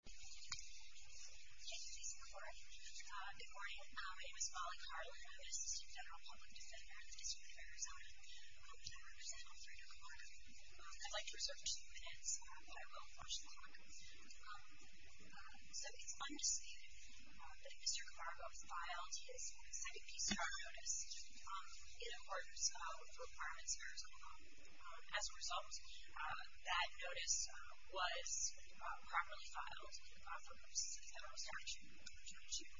Good morning. My name is Molly Carlin. I'm an assistant general public defender in the District of Arizona, and I represent Alfredo Camargo. I'd like to reserve two minutes, but I will push the clock. So it's undisputed that if Mr. Camargo filed his second piece of our notice in accordance with the requirements of Arizona law. As a result, that notice was properly filed from 6th Avenue statute on June 2nd,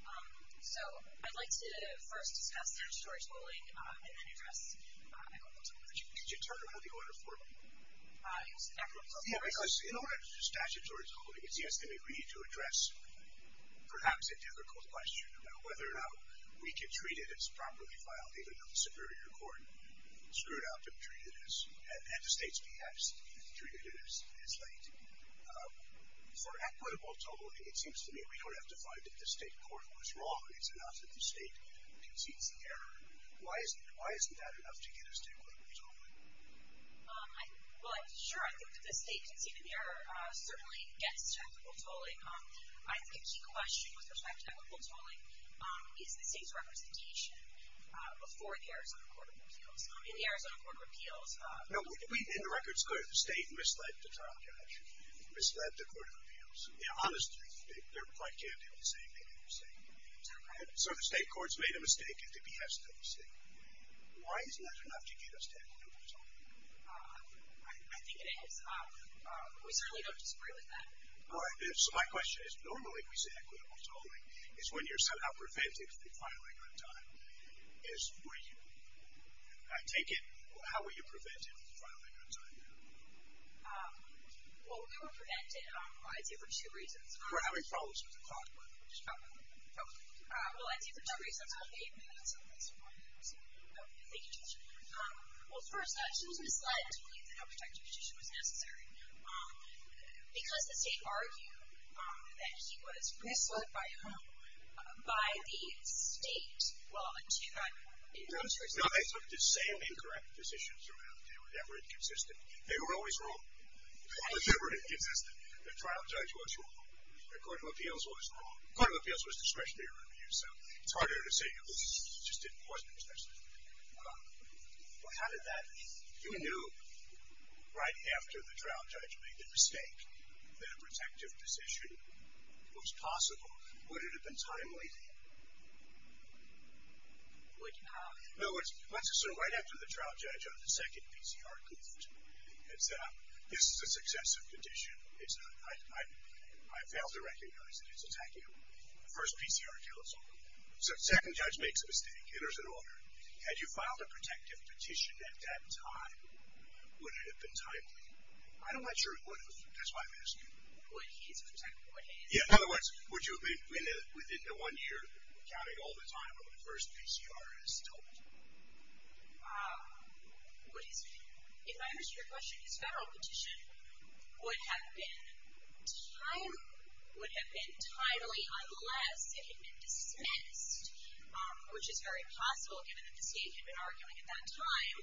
2014. So I'd like to first discuss statutory tolling and then address a couple of topics. Could you turn around the order for me? In order to do statutory tolling, it's yes, they may agree to address perhaps a difficult question about whether or not we can treat it as properly filed, even though the Superior Court screwed up and treated it as, and the state's behalf is treated as late. For equitable tolling, it seems to me we don't have to find that the state court was wrong. It's enough that the state concedes the error. Why isn't that enough to get us to equitable tolling? Well, sure, I think that the state conceding the error certainly gets to equitable tolling. I think a key question with respect to equitable tolling is the state's representation before the Arizona Court of Appeals. In the Arizona Court of Appeals, No, in the records, the state misled the trial judge, misled the Court of Appeals. Honestly, they're quite candid in saying they made a mistake. So the state court's made a mistake, it's a BS mistake. Why isn't that enough to get us to equitable tolling? I think it is. We certainly don't disagree with that. All right, so my question is, normally we say equitable tolling is when you're somehow prevented from filing on time. Is, were you? I take it, how were you prevented from filing on time? Well, we were prevented, I'd say for two reasons. We're having problems with the clock, by the way. Okay. Well, I'd say for two reasons. I'll be eight minutes, so that's four minutes. Thank you, Judge. Well, first, she was misled to believe that no protection petition was necessary. Because the state argued that he was misled by whom? By the state. Well, in 2009. No, they took the same incorrect decisions around. They were never inconsistent. They were always wrong. They were never inconsistent. The trial judge was wrong. The Court of Appeals was wrong. The Court of Appeals was discretionary review, so it's harder to say, it just wasn't discretionary. Well, how did that, you knew right after the trial judge made the mistake that a protective petition was possible. Would it have been timely? Like how? No, it's, let's assume right after the trial judge on the second PCR court had said, this is a successive petition, it's not, I, I, I fail to recognize that it's attacking the first PCR counsel. So, second judge makes a mistake, enters an order. Had you filed a protective petition at that time, would it have been timely? I'm not sure it would have, that's why I'm asking. Would he have been timely? Yeah, in other words, would you have been within the one year, counting all the time of when the first PCR is told? If I understand your question, his federal petition would have been timely, unless it had been dismissed, which is very possible given that the state had been arguing at that time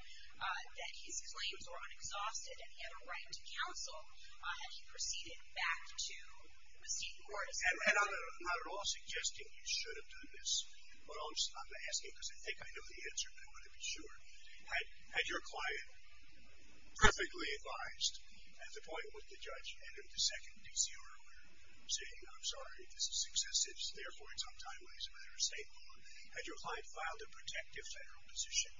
that his claims were unexhausted and he had a right to counsel, had he proceeded back to the state court. And I'm not at all suggesting you should have done this, but I'm asking because I think I know the answer, but I want to be sure. Had your client perfectly advised at the point when the judge entered the second PCR where he was saying, I'm sorry, this is excessive, therefore it's not timely as a matter of state law, had your client filed a protective federal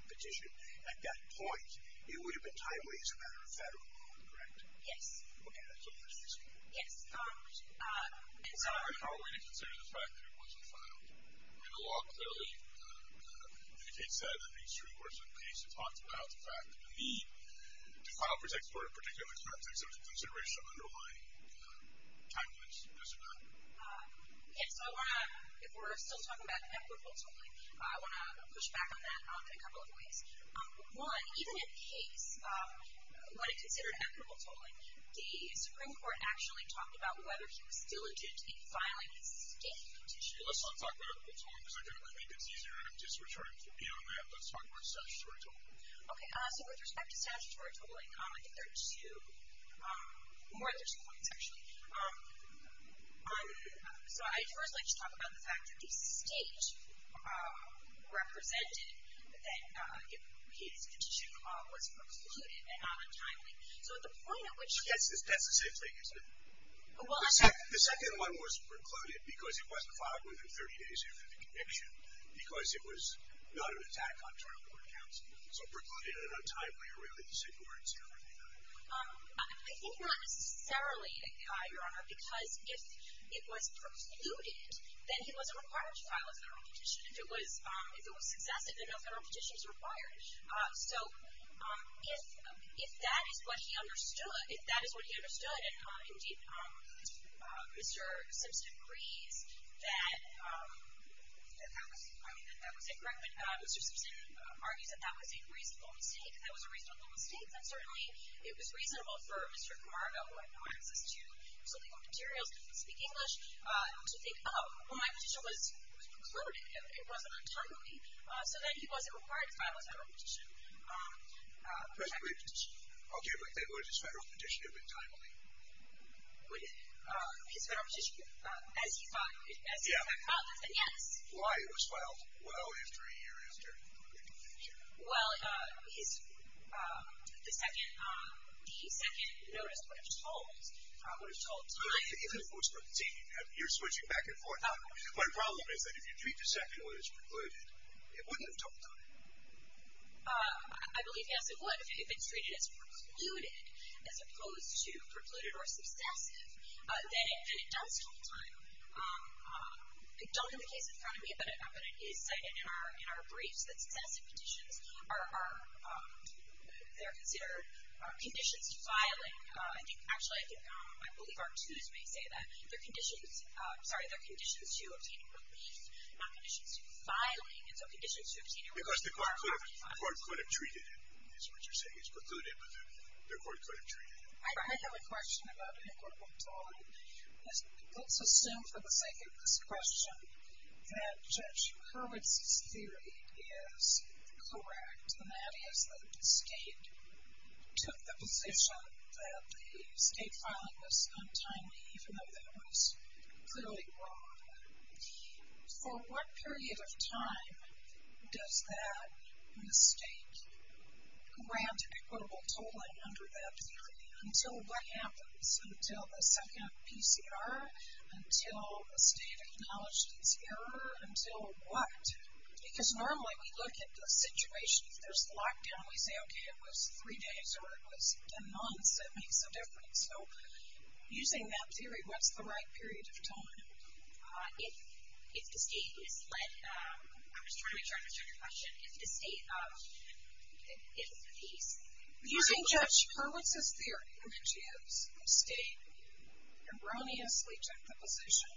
petition at that point, it would have been timely as a matter of federal law, correct? Yes. Okay, that's all I'm asking. Yes. How are we to consider the fact that it wasn't filed? I mean, the law clearly indicates that in the extreme course of the case, it talks about the fact that the need to file a protective order, particularly in the context of consideration of underlying timeliness, does it not? Okay, so I want to, if we're still talking about equitable tolling, I want to push back on that in a couple of ways. One, even in the case when it's considered equitable tolling, the Supreme Court actually talked about whether he was diligent in filing the state petition. Let's not talk about equitable tolling because I think it's easier and I'm just retarding to be on that. Let's talk about statutory tolling. Okay. So, with respect to statutory tolling, I think there are two, more than two points, actually. So, I'd first like to talk about the fact that the state represented that his petition was precluded and not on timely. So, at the point at which he. That's the same thing, isn't it? The second one was precluded because it wasn't filed within 30 days after the conviction because it was not an attack on trial court counsel. So, precluded and not timely are really the same words here, aren't they? I think not necessarily, Your Honor, because if it was precluded, then he wasn't required to file a federal petition. If it was successive, then no federal petition is required. So, if that is what he understood, if that is what he understood, and indeed Mr. Simpson agrees that that was incorrect, and Mr. Simpson argues that that was a reasonable mistake, that that was a reasonable mistake, then certainly it was reasonable for Mr. Camargo, who had no access to political materials, didn't speak English, to think, oh, well, my petition was precluded. It wasn't on timely. So, then he wasn't required to file a federal petition. Personally, I'll give it like that. Would his federal petition have been timely? His federal petition, as he thought, as he thought about this, then yes. Why it was filed? Well, after a year, is there a particular reason? Well, the second notice would have told, would have told time. Even if it was precluded, you're switching back and forth. My problem is that if you treat the second notice precluded, it wouldn't have told time. I believe, yes, it would. If it's treated as precluded, as opposed to precluded or successive, then it does tell time. I don't have the case in front of me, but it is cited in our briefs that successive petitions are, they're considered conditions to filing. Actually, I believe our twos may say that. They're conditions, sorry, they're conditions to obtaining relief, not conditions to filing. And so, conditions to obtaining relief. Because the court could have treated it, is what you're saying. It's precluded, but the court could have treated it. I have a question about it. Let's assume, for the sake of this question, that Judge Hurwitz's theory is correct, and that is that the state took the position that the state filing was untimely, even though that was clearly wrong. For what period of time does that mistake grant equitable totaling under that theory? Until what happens? Until the second PCR? Until the state acknowledged its error? Until what? Because normally, we look at the situation. If there's a lockdown, we say, okay, it was three days, or it was 10 months, that makes a difference. So, using that theory, what's the right period of time? If the state is led, I was trying to make sure I understood your question. Using Judge Hurwitz's theory, which is the state erroneously took the position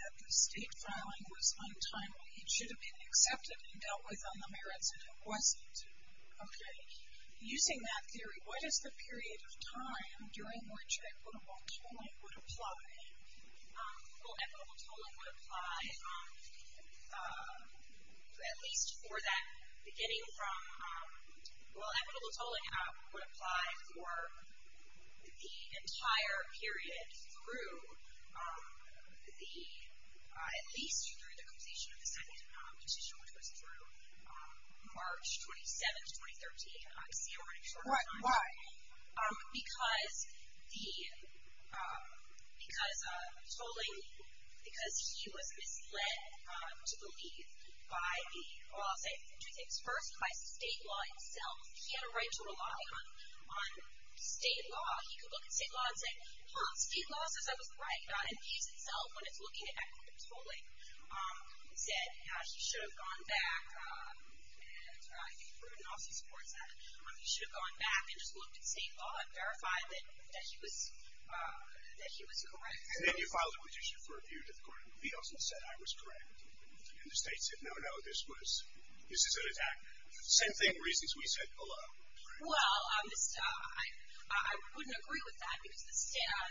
that the state filing was untimely, it should have been accepted and dealt with on the merits, and it wasn't. Using that theory, what is the period of time during which equitable totaling would apply, at least for that beginning from, well, equitable tolling would apply for the entire period through the, at least through the completion of the second petition, which was through March 27th, 2013. Why? Because the, because tolling, because he was misled to believe by the, well, I'll say the two things. First, by state law itself. He had a right to rely on state law. He could look at state law and say, huh, state law says I was right. And it views itself when it's looking at equitable tolling. Instead, he should have gone back, and I think Pruden also supports that, he should have gone back and just looked at state law and verified that he was, that he was correct. And then you filed a petition for a view to the court of appeals and said, I was correct. And the state said, no, no, this was, this is an attack. Same thing, reasons we said below. Well, I wouldn't agree with that, because the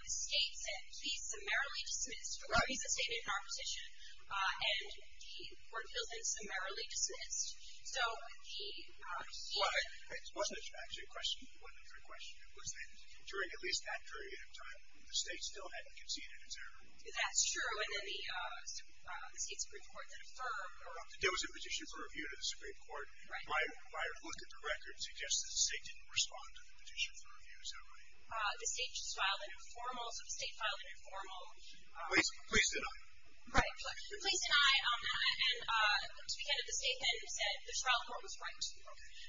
state said, he's summarily dismissed, or he's a statement in our petition, and the court feels it's summarily dismissed. Well, it wasn't actually a question. It wasn't a question. It was that during at least that period of time, the state still hadn't conceded its error. That's true. And then the state Supreme Court then affirmed. There was a petition for a view to the Supreme Court. Right. My look at the record suggests that the state didn't respond to the petition for a view. Is that right? The state just filed an informal, so the state filed an informal. Please deny. Right. Please deny. And to the end of the statement, it said the trial court was right.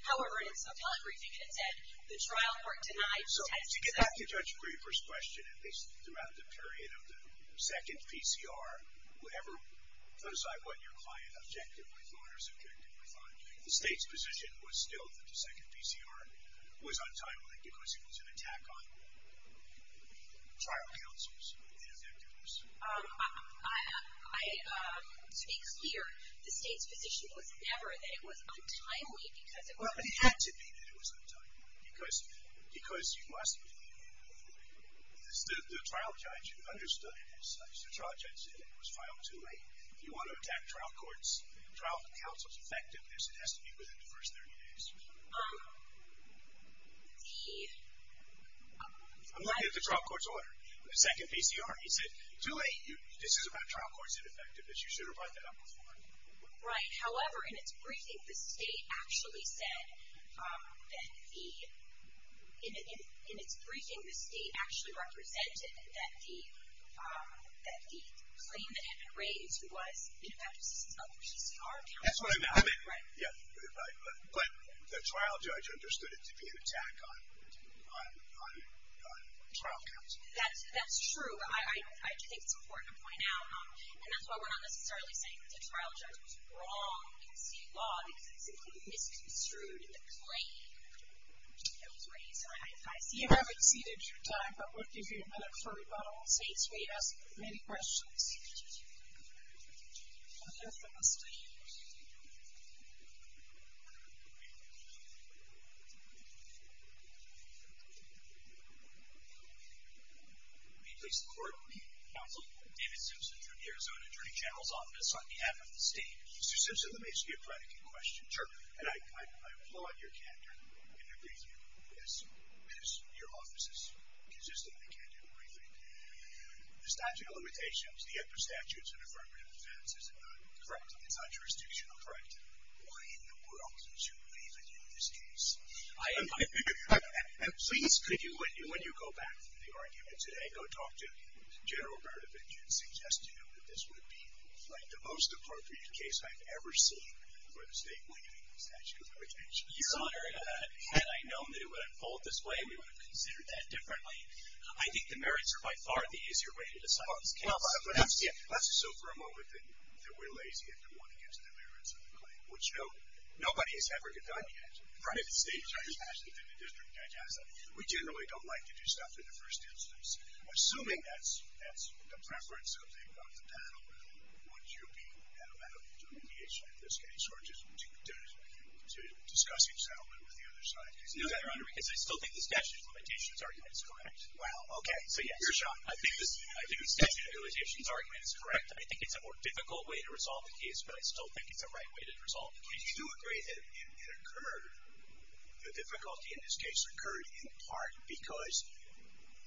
However, in its telebriefing, it said the trial court denied. So to get back to Judge Graber's question, at least throughout the period of the second PCR, whatever, put aside what your client objectively thought or subjectively thought, the state's position was still that the second PCR was untimely, because it was an attack on trial counsels and their victims. To be clear, the state's position was never that it was untimely because it was. Well, it had to be that it was untimely, because you must be. The trial judge understood this. The trial judge said it was filed too late. If you want to attack trial courts, trial counsel's effectiveness, it has to be within the first 30 days. I'm looking at the trial court's order. The second PCR. He said, too late. This is about trial court's effectiveness. You should have brought that up before. Right. However, in its briefing, the state actually said that the – in its briefing, the state actually represented that the claim that had been raised was in effect the second PCR. That's what I meant. Right. But the trial judge understood it to be an attack on trial counsel. That's true. I think it's important to point out, and that's why we're not necessarily saying that the trial judge was wrong in the state law because it simply misconstrued the claim that was raised. You have exceeded your time, but we'll give you a minute for rebuttal. The state has many questions. May it please the Court. Counsel. David Simpson from the Arizona Attorney General's Office on behalf of the state. Mr. Simpson, let me ask you a predicate question. Sure. And I applaud your candor in your briefing, as your office is consistent in the candor of the briefing. The statute of limitations, the upper statutes in affirmative defense, is it not? Correct. It's not jurisdictional. Correct. Why in the world should we believe it in this case? Please, could you, when you go back to the argument today, go talk to General Berdovich and suggest to him that this would be, like, the most appropriate case I've ever seen for the state winning statute of limitations? Your Honor, had I known that it would unfold this way, we would have considered that differently. I think the merits are by far the easier way to decide this case. Let's assume for a moment that we're lazy and don't want to get to the merits of the claim, which nobody has ever done yet. Right. We generally don't like to do stuff in the first instance. Assuming that's the preference of the panel, would you be adamant to mediation in this case or to discussing settlement with the other side? No, Your Honor, because I still think the statute of limitations argument is correct. Wow, okay. So, yes. Your shot. I think the statute of limitations argument is correct. I think it's a more difficult way to resolve a case, but I still think it's a right way to resolve a case. Do you agree that it occurred, the difficulty in this case occurred, in part because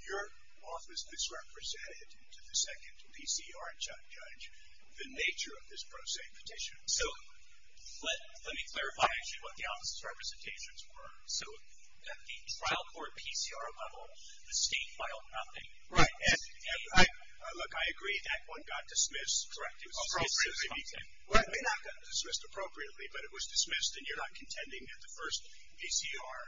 your office misrepresented to the second PCR judge the nature of this pro se petition? So, let me clarify actually what the office's representations were. So, at the trial court PCR level, the state filed nothing. Right. Look, I agree that one got dismissed. Correct. It was dismissed appropriately. Well, it may not have got dismissed appropriately, but it was dismissed and you're not contending that the first PCR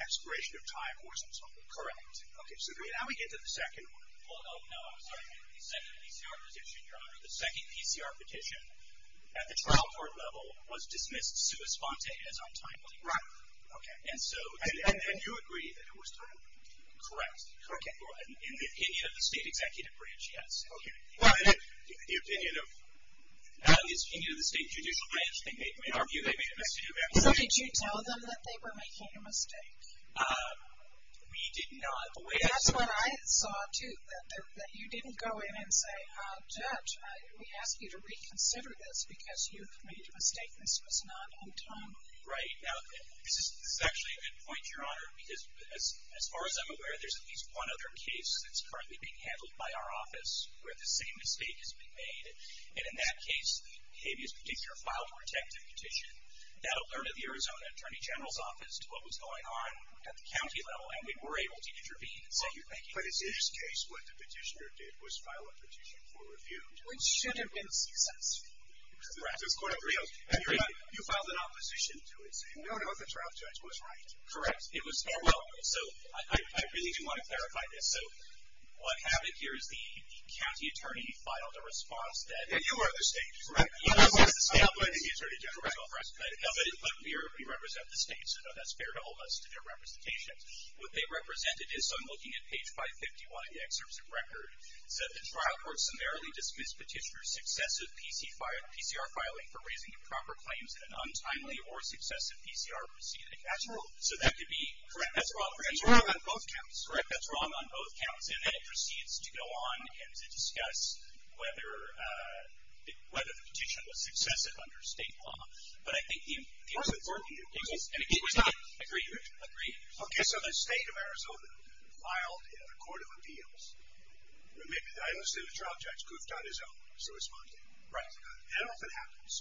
expiration of time wasn't solved. Correct. Okay. So, now we get to the second one. Oh, no, I'm sorry. The second PCR petition, Your Honor, the second PCR petition at the trial court level was dismissed sua sponte as untimely. Right. Okay. And so, and you agree that it was timely? Correct. Okay. In the opinion of the state executive branch, yes. Okay. Well, in the opinion of the state judicial branch, in our view, they made a mistake. So, did you tell them that they were making a mistake? We did not. That's what I saw, too, that you didn't go in and say, Judge, we ask you to reconsider this because you've made a mistake. This was not untimely. Right. Now, this is actually a good point, Your Honor, because as far as I'm aware there's at least one other case that's currently being handled by our office where the same mistake has been made. And in that case, Habeas Petitioner filed a protective petition. That alerted the Arizona Attorney General's office to what was going on at the county level, and we were able to intervene and say you're making a mistake. But in this case, what the petitioner did was file a petition for review. Which should have been successful. Correct. And you filed an opposition to it saying, no, no, the trial judge was right. Correct. So, I really do want to clarify this. So, what happened here is the county attorney filed a response that. And you are the state, correct? Yes, I'm the state. I'm the attorney general. Correct. But we represent the state, so that's fair to all of us to get representation. What they represented is, so I'm looking at page 551 of the excerpt of record, said the trial court summarily dismissed petitioner's success of PCR filing for raising improper claims in an untimely or successive PCR proceeding. That's wrong. So, that could be. Correct. That's wrong. That's wrong on both counts. Correct. That's wrong on both counts. And then it proceeds to go on and to discuss whether the petition was successive under state law. But I think the important thing. Agree. Agree. Okay. So, the state of Arizona filed a court of appeals. I understand the trial judge goofed on his own in responding. Right. That often happens.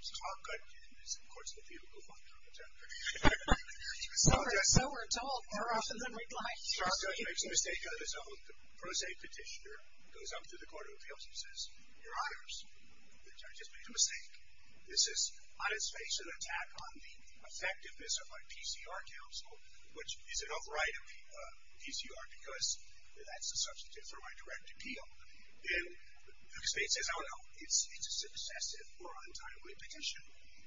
So, I'll cut to this. Of course, the people goof on the trial judge. So, we're told more often than we'd like. The trial judge makes a mistake on his own. The pro se petitioner goes up to the court of appeals and says, your honors, the judge has made a mistake. This is, I just faced an attack on the effectiveness of my PCR counsel, which is an overriding PCR because that's a substitute for my direct appeal. And the state says, I don't know, it's a successive or untimely petition.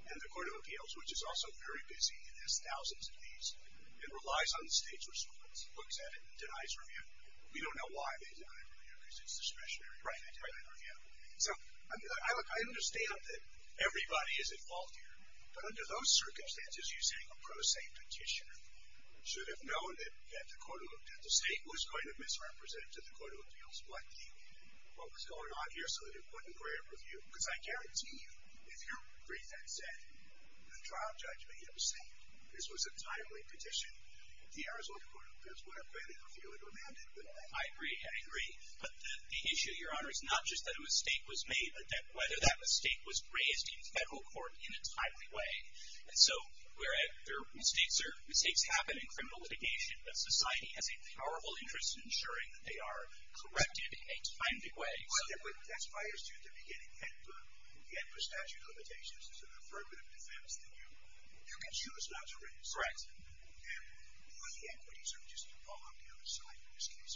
And the court of appeals, which is also very busy and has thousands of these, and relies on the state's response, looks at it and denies review. We don't know why they deny review because it's discretionary. Right. They deny review. So, I understand that everybody is at fault here. But under those circumstances, you saying a pro se petitioner should have known that the state was going to misrepresent to the court of appeals what was going on here so that it wouldn't require a review. Because I guarantee you, if your brief had said, the trial judge may have said this was a timely petition, the Arizona court of appeals would have granted a review and remanded. I agree. I agree. But the issue, your honors, not just that a mistake was made, but that whether that mistake was raised in federal court in a timely way. And so, where mistakes are, mistakes happen in criminal litigation, but society has a powerful interest in ensuring that they are corrected in a timely way. But that's why I assumed at the beginning, and for statute of limitations, it's an affirmative defense that you can choose not to raise. Correct. And all the equities are just all on the other side in this case.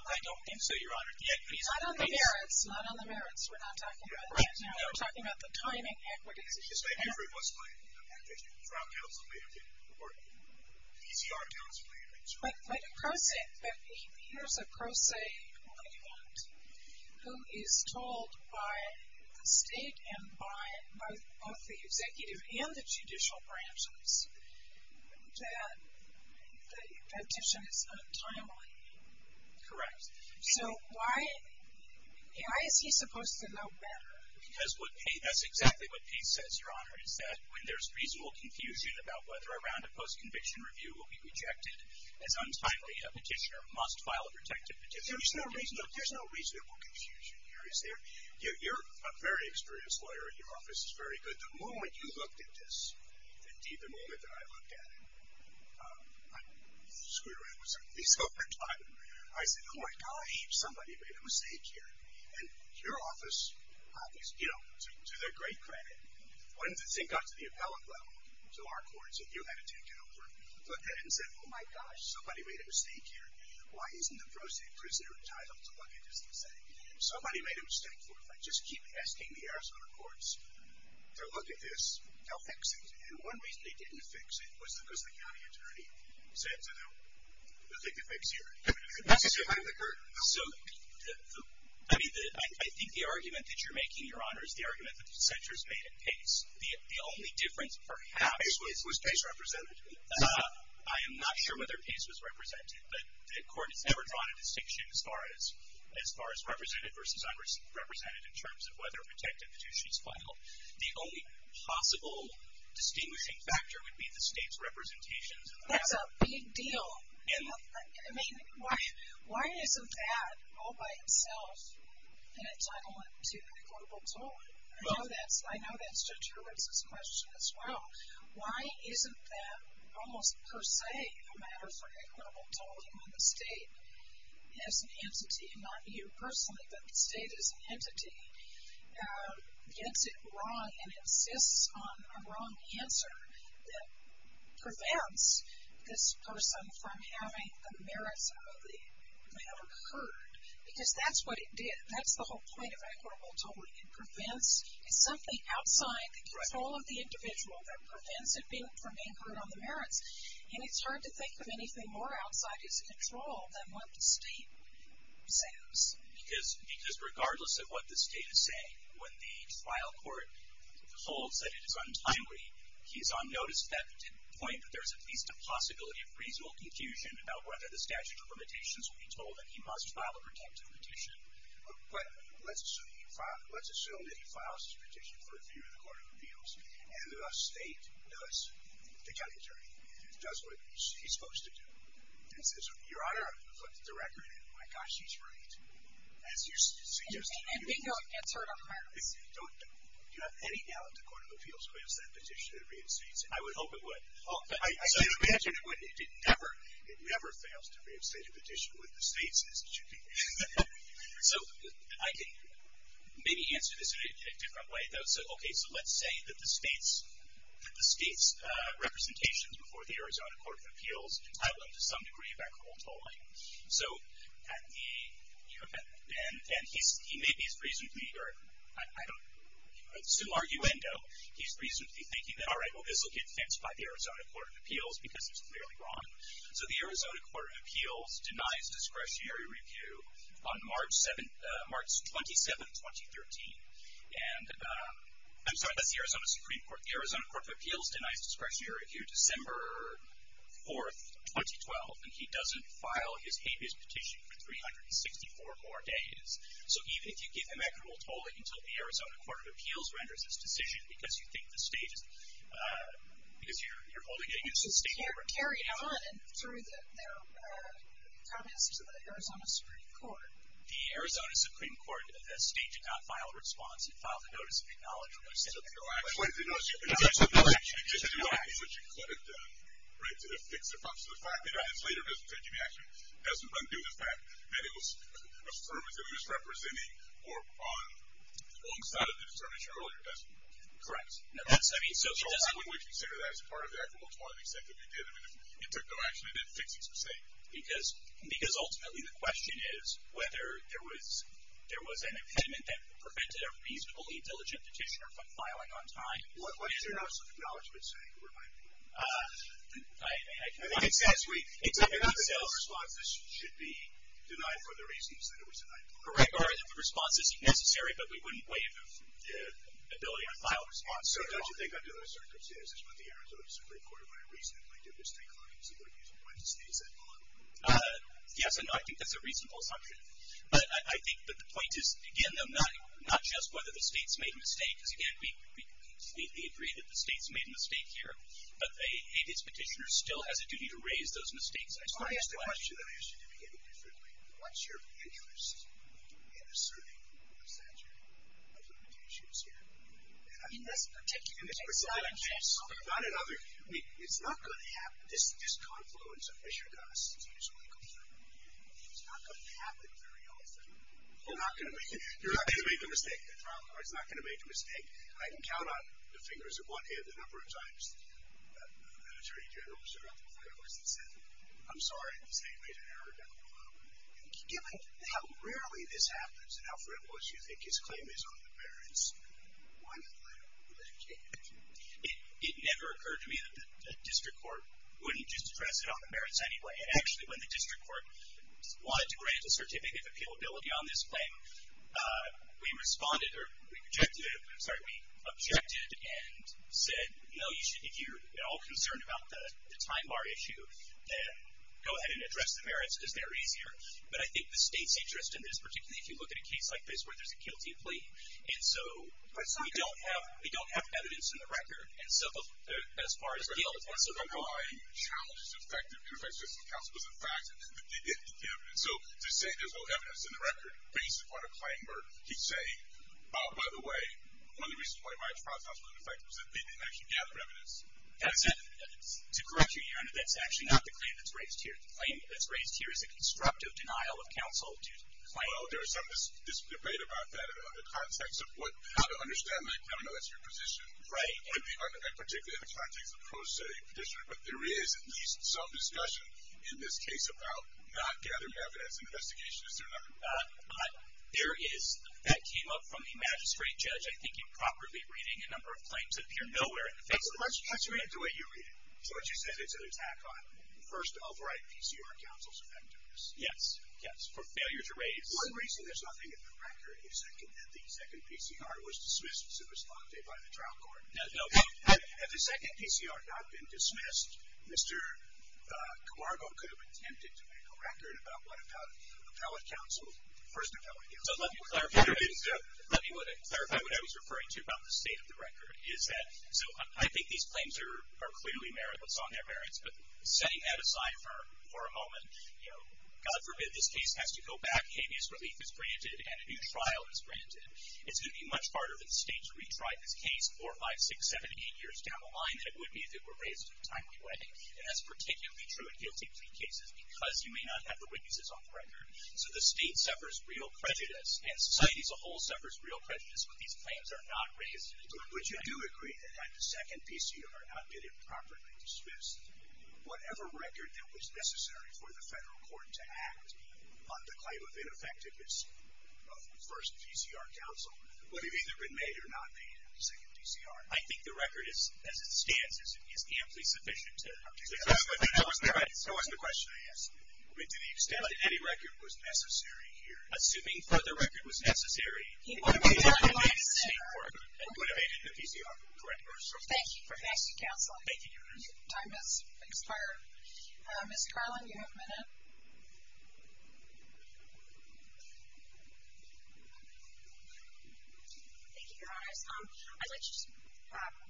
I don't think so, your honor. Not on the merits. Not on the merits. We're not talking about that. We're talking about the timing, equities. I agree with what's claimed in the petition. The trial counsel may have been reporting. ECR counsel may have been, too. But here's a pro se client who is told by the state and by both the executive and the judicial branches that the petition is not timely. Correct. So, why is he supposed to know better? Because that's exactly what Pete says, your honor, is that when there's reasonable confusion about whether a round of post-conviction review will be rejected as untimely, a petitioner must file a protective petition. There's no reasonable confusion here, is there? You're a very experienced lawyer, and your office is very good. The moment you looked at this, indeed, the moment that I looked at it, I screwed around with some of these over time. I said, oh, my God, somebody made a mistake here. And your office, to their great credit, once it got to the appellate level to our courts that you had to take over, looked at it and said, oh, my gosh, somebody made a mistake here. Why isn't the pro se prisoner entitled to look at this and say, somebody made a mistake. If I just keep asking the Arizona courts to look at this, they'll fix it. And one reason they didn't fix it was because the county attorney said to them, I don't think they'd fix it. So I think the argument that you're making, Your Honor, is the argument that the censors made at pace. The only difference, perhaps, was pace represented. I am not sure whether pace was represented, but the court has never drawn a distinction as far as represented versus unrepresented in terms of whether a protective petition is filed. The only possible distinguishing factor would be the state's representations. That's a big deal. I mean, why isn't that all by itself an entitlement to equitable tolling? I know that's Judge Hurwitz's question as well. Why isn't that almost per se a matter for equitable tolling when the state, as an entity, and not you personally, but the state as an entity, gets it wrong and insists on a wrong answer that prevents this person from having the merits of the matter heard? Because that's what it did. That's the whole point of equitable tolling. It prevents something outside the control of the individual that prevents it from being heard on the merits. And it's hard to think of anything more outside its control than what the state says. Because regardless of what the state is saying, when the trial court holds that it is untimely, he is on notice at that point that there is at least a possibility of reasonable confusion about whether the statute of limitations will be told, and he must file a protective petition. But let's assume that he files his petition for review in the Court of Appeals, and the state does, the county attorney, does what he's supposed to do. He says, Your Honor, I've looked at the record, and my gosh, he's right. As you're suggesting. And bingo, it gets heard on the merits. Do you have any doubt the Court of Appeals will have sent a petition to the United States? I would hope it would. I can imagine it would. It never fails to have sent a petition with the states, as it should be. So I can maybe answer this in a different way, though. So let's say that the state's representations before the Arizona Court of Appeals, entitle them to some degree of equitable tolling. And he maybe is reasonably, or I don't assume arguendo, he's reasonably thinking that, all right, well, this will get fenced by the Arizona Court of Appeals because it's clearly wrong. So the Arizona Court of Appeals denies discretionary review on March 27, 2013. And I'm sorry, that's the Arizona Supreme Court. The Arizona Court of Appeals denies discretionary review December 4, 2012. And he doesn't file his habeas petition for 364 more days. So even if you give him equitable tolling until the Arizona Court of Appeals renders its decision because you think the state is, because you're holding it against the state. So it would carry on through the comments to the Arizona Supreme Court. The Arizona Supreme Court, the state did not file a response. It filed a notice of acknowledgment. It took no action. It did not issue a notice of acknowledgment. It just did not issue a cleric to fix the problem. So the fact that it is later doesn't take any action doesn't undo the fact that it was affirmatively misrepresenting or on the wrong side of the determination earlier, does it? Correct. I mean, so it doesn't. So wouldn't we consider that as part of the equitable tolling, the extent that we did? I mean, it took no action. It didn't fix it, per se. Because ultimately the question is whether there was an impediment that prevented a reasonably diligent petitioner from filing on time. What's your notice of acknowledgment saying? It reminds me of one. I think it says we, I think it says our response should be denied for the reasons that it was denied for. Correct. Our response is necessary, but we wouldn't waive the ability to file a response. So don't you think under those circumstances, it's what the Arizona Supreme Court might reasonably do, is take a look and see whether there's a point to stay set on? Yes, I think that's a reasonable assumption. But I think the point is, again, though, not just whether the state's made a mistake, because, again, we completely agree that the state's made a mistake here, but a petitioner still has a duty to raise those mistakes. I just want to ask the question that I asked you to begin with differently. What's your interest in asserting a statute of limitations here? I mean, that's a particular case. It's not another. I mean, it's not going to happen. This confluence of issue costs is usually considered. It's not going to happen very often. You're not going to make a mistake. The trial court's not going to make a mistake. I can count on the fingers of one hand the number of times an attorney general stood up to a lawyer and said, I'm sorry. The state made an error down below. Given how rarely this happens and how frivolous you think his claim is on the merits, why not let it change? It never occurred to me that the district court wouldn't just address it on the merits anyway. And actually, when the district court wanted to grant a certificate of appealability on this claim, we responded or we objected and said, no, if you're at all concerned about the time bar issue, then go ahead and address the merits because they're easier. But I think the state's interest in this, particularly if you look at a case like this where there's a guilty plea, and so we don't have evidence in the record. And so as far as the other points that I brought up. My challenge to the fact that it would affect justice and counsel was the fact that they didn't get evidence. So to say there's no evidence in the record based upon a claim or he's saying, by the way, one of the reasons why my trial trial was ineffective is that they didn't actually gather evidence. That's it. To correct you, Your Honor, that's actually not the claim that's raised here. The claim that's raised here is a constructive denial of counsel due to the claim. Well, there is some debate about that in the context of how to understand that. I don't know if that's your position. Right. And particularly in the context of pro se petitioning. But there is at least some discussion in this case about not gathering evidence in the investigation. Is there not? There is. That came up from the magistrate judge, I think, improperly reading a number of claims that appear nowhere in the facts of the case. How do you read it the way you read it? So what you said, it's an attack on first of right PCR counsel's offenders. Yes. For failure to raise. One reason there's nothing in the record is that the second PCR was dismissed. It was lauded by the trial court. No. Had the second PCR not been dismissed, Mr. Camargo could have attempted to make a record about what appellate counsel, first appellate counsel. So let me clarify what I was referring to about the state of the record. So I think these claims are clearly merits. It's on their merits. But setting that aside for a moment, you know, God forbid this case has to go back, habeas relief is granted, and a new trial is granted. It's going to be much harder for the state to retry this case four, five, six, seven, eight years down the line than it would be if it were raised in a timely way. And that's particularly true in guilty plea cases because you may not have the witnesses on the record. So the state suffers real prejudice, and society as a whole suffers real prejudice when these claims are not raised. But would you do agree that had the second PCR not been improperly dismissed, whatever record that was necessary for the federal court to act on the claim of ineffectiveness of first PCR counsel would have either been made or not made in the second PCR? I think the record as it stands is amply sufficient. That wasn't the question I asked. I mean, to the extent that any record was necessary here. Assuming further record was necessary, he would have made it in the second court and would have made it in the PCR. Correct me if I'm wrong. Thank you for asking counsel. Thank you, Your Honor. Your time has expired. Ms. Carlin, you have a minute. Thank you, Your Honor. I'd like to just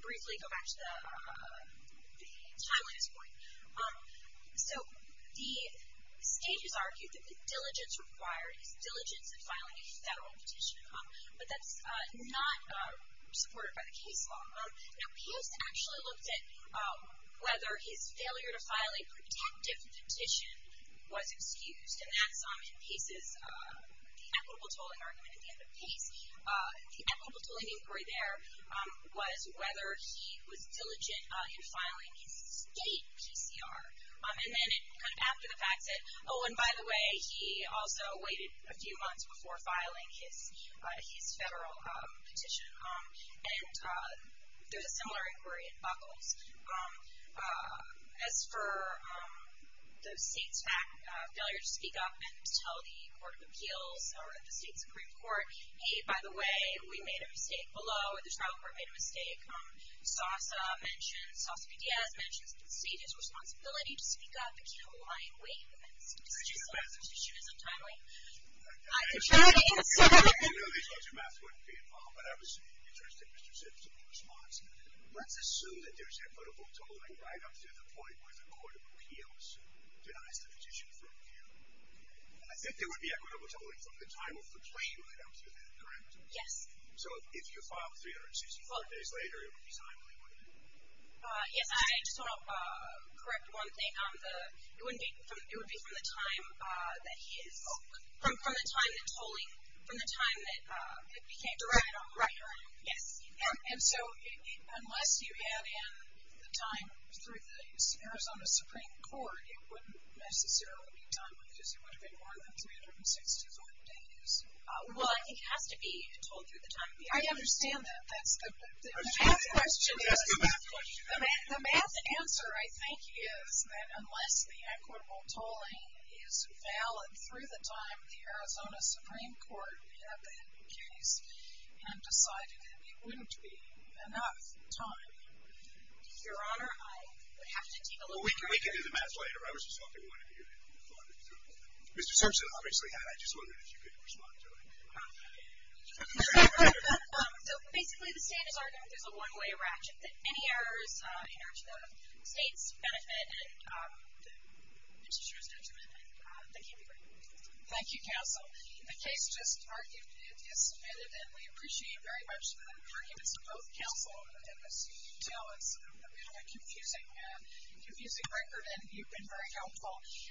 briefly go back to the timeline at this point. So the state has argued that the diligence required, diligence in filing a federal petition, but that's not supported by the case law. Now, Pace actually looked at whether his failure to file a protective petition was excused, and that's in Pace's equitable tolling argument at the end of Pace. The equitable tolling inquiry there was whether he was diligent in filing his state PCR. And then after the fact said, oh, and by the way, he also waited a few months before filing his federal petition. And there's a similar inquiry in Buckles. As for the state's failure to speak up and to tell the Court of Appeals or the state's Supreme Court, hey, by the way, we made a mistake below. The Tribal Court made a mistake. SOSA mentioned, SOSA-PDS mentions that the state has a responsibility to speak up and can't lie in the midst of decisions like the petition is untimely. I can try to answer that. If you knew these larger maps, you wouldn't be involved. But I was interested in Mr. Simpson's response. Let's assume that there's equitable tolling right up to the point where the Court of Appeals denies the petition for appeal. I think there would be equitable tolling from the time of the claim right up to that, correct? Yes. So if you filed 364 days later, it would be timely, wouldn't it? Yes. I just want to correct one thing. It would be from the time that he is open, from the time that tolling, from the time that it became direct on the record. Yes. And so unless you had in the time through the Arizona Supreme Court, it wouldn't necessarily be timely because it would have been more than 364 days. Well, I think it has to be tolled through the time. I understand that. The math question is, the math answer, I think, is that unless the equitable tolling is valid through the time the Arizona Supreme Court had the case and decided that it wouldn't be enough time, Your Honor, I would have to take a look at it. Well, we can do the math later. I was just hoping one of you could respond. Mr. Simpson, obviously, had. I just wondered if you could respond to it. So basically, the standard argument is a one-way ratchet. Any errors in the state's benefit and the legislature's detriment, they can't be brought forward. Thank you, counsel. The case just argued is submitted, and we appreciate very much the arguments of both counsel. As you can tell, it's a bit of a confusing record, and you've been very helpful.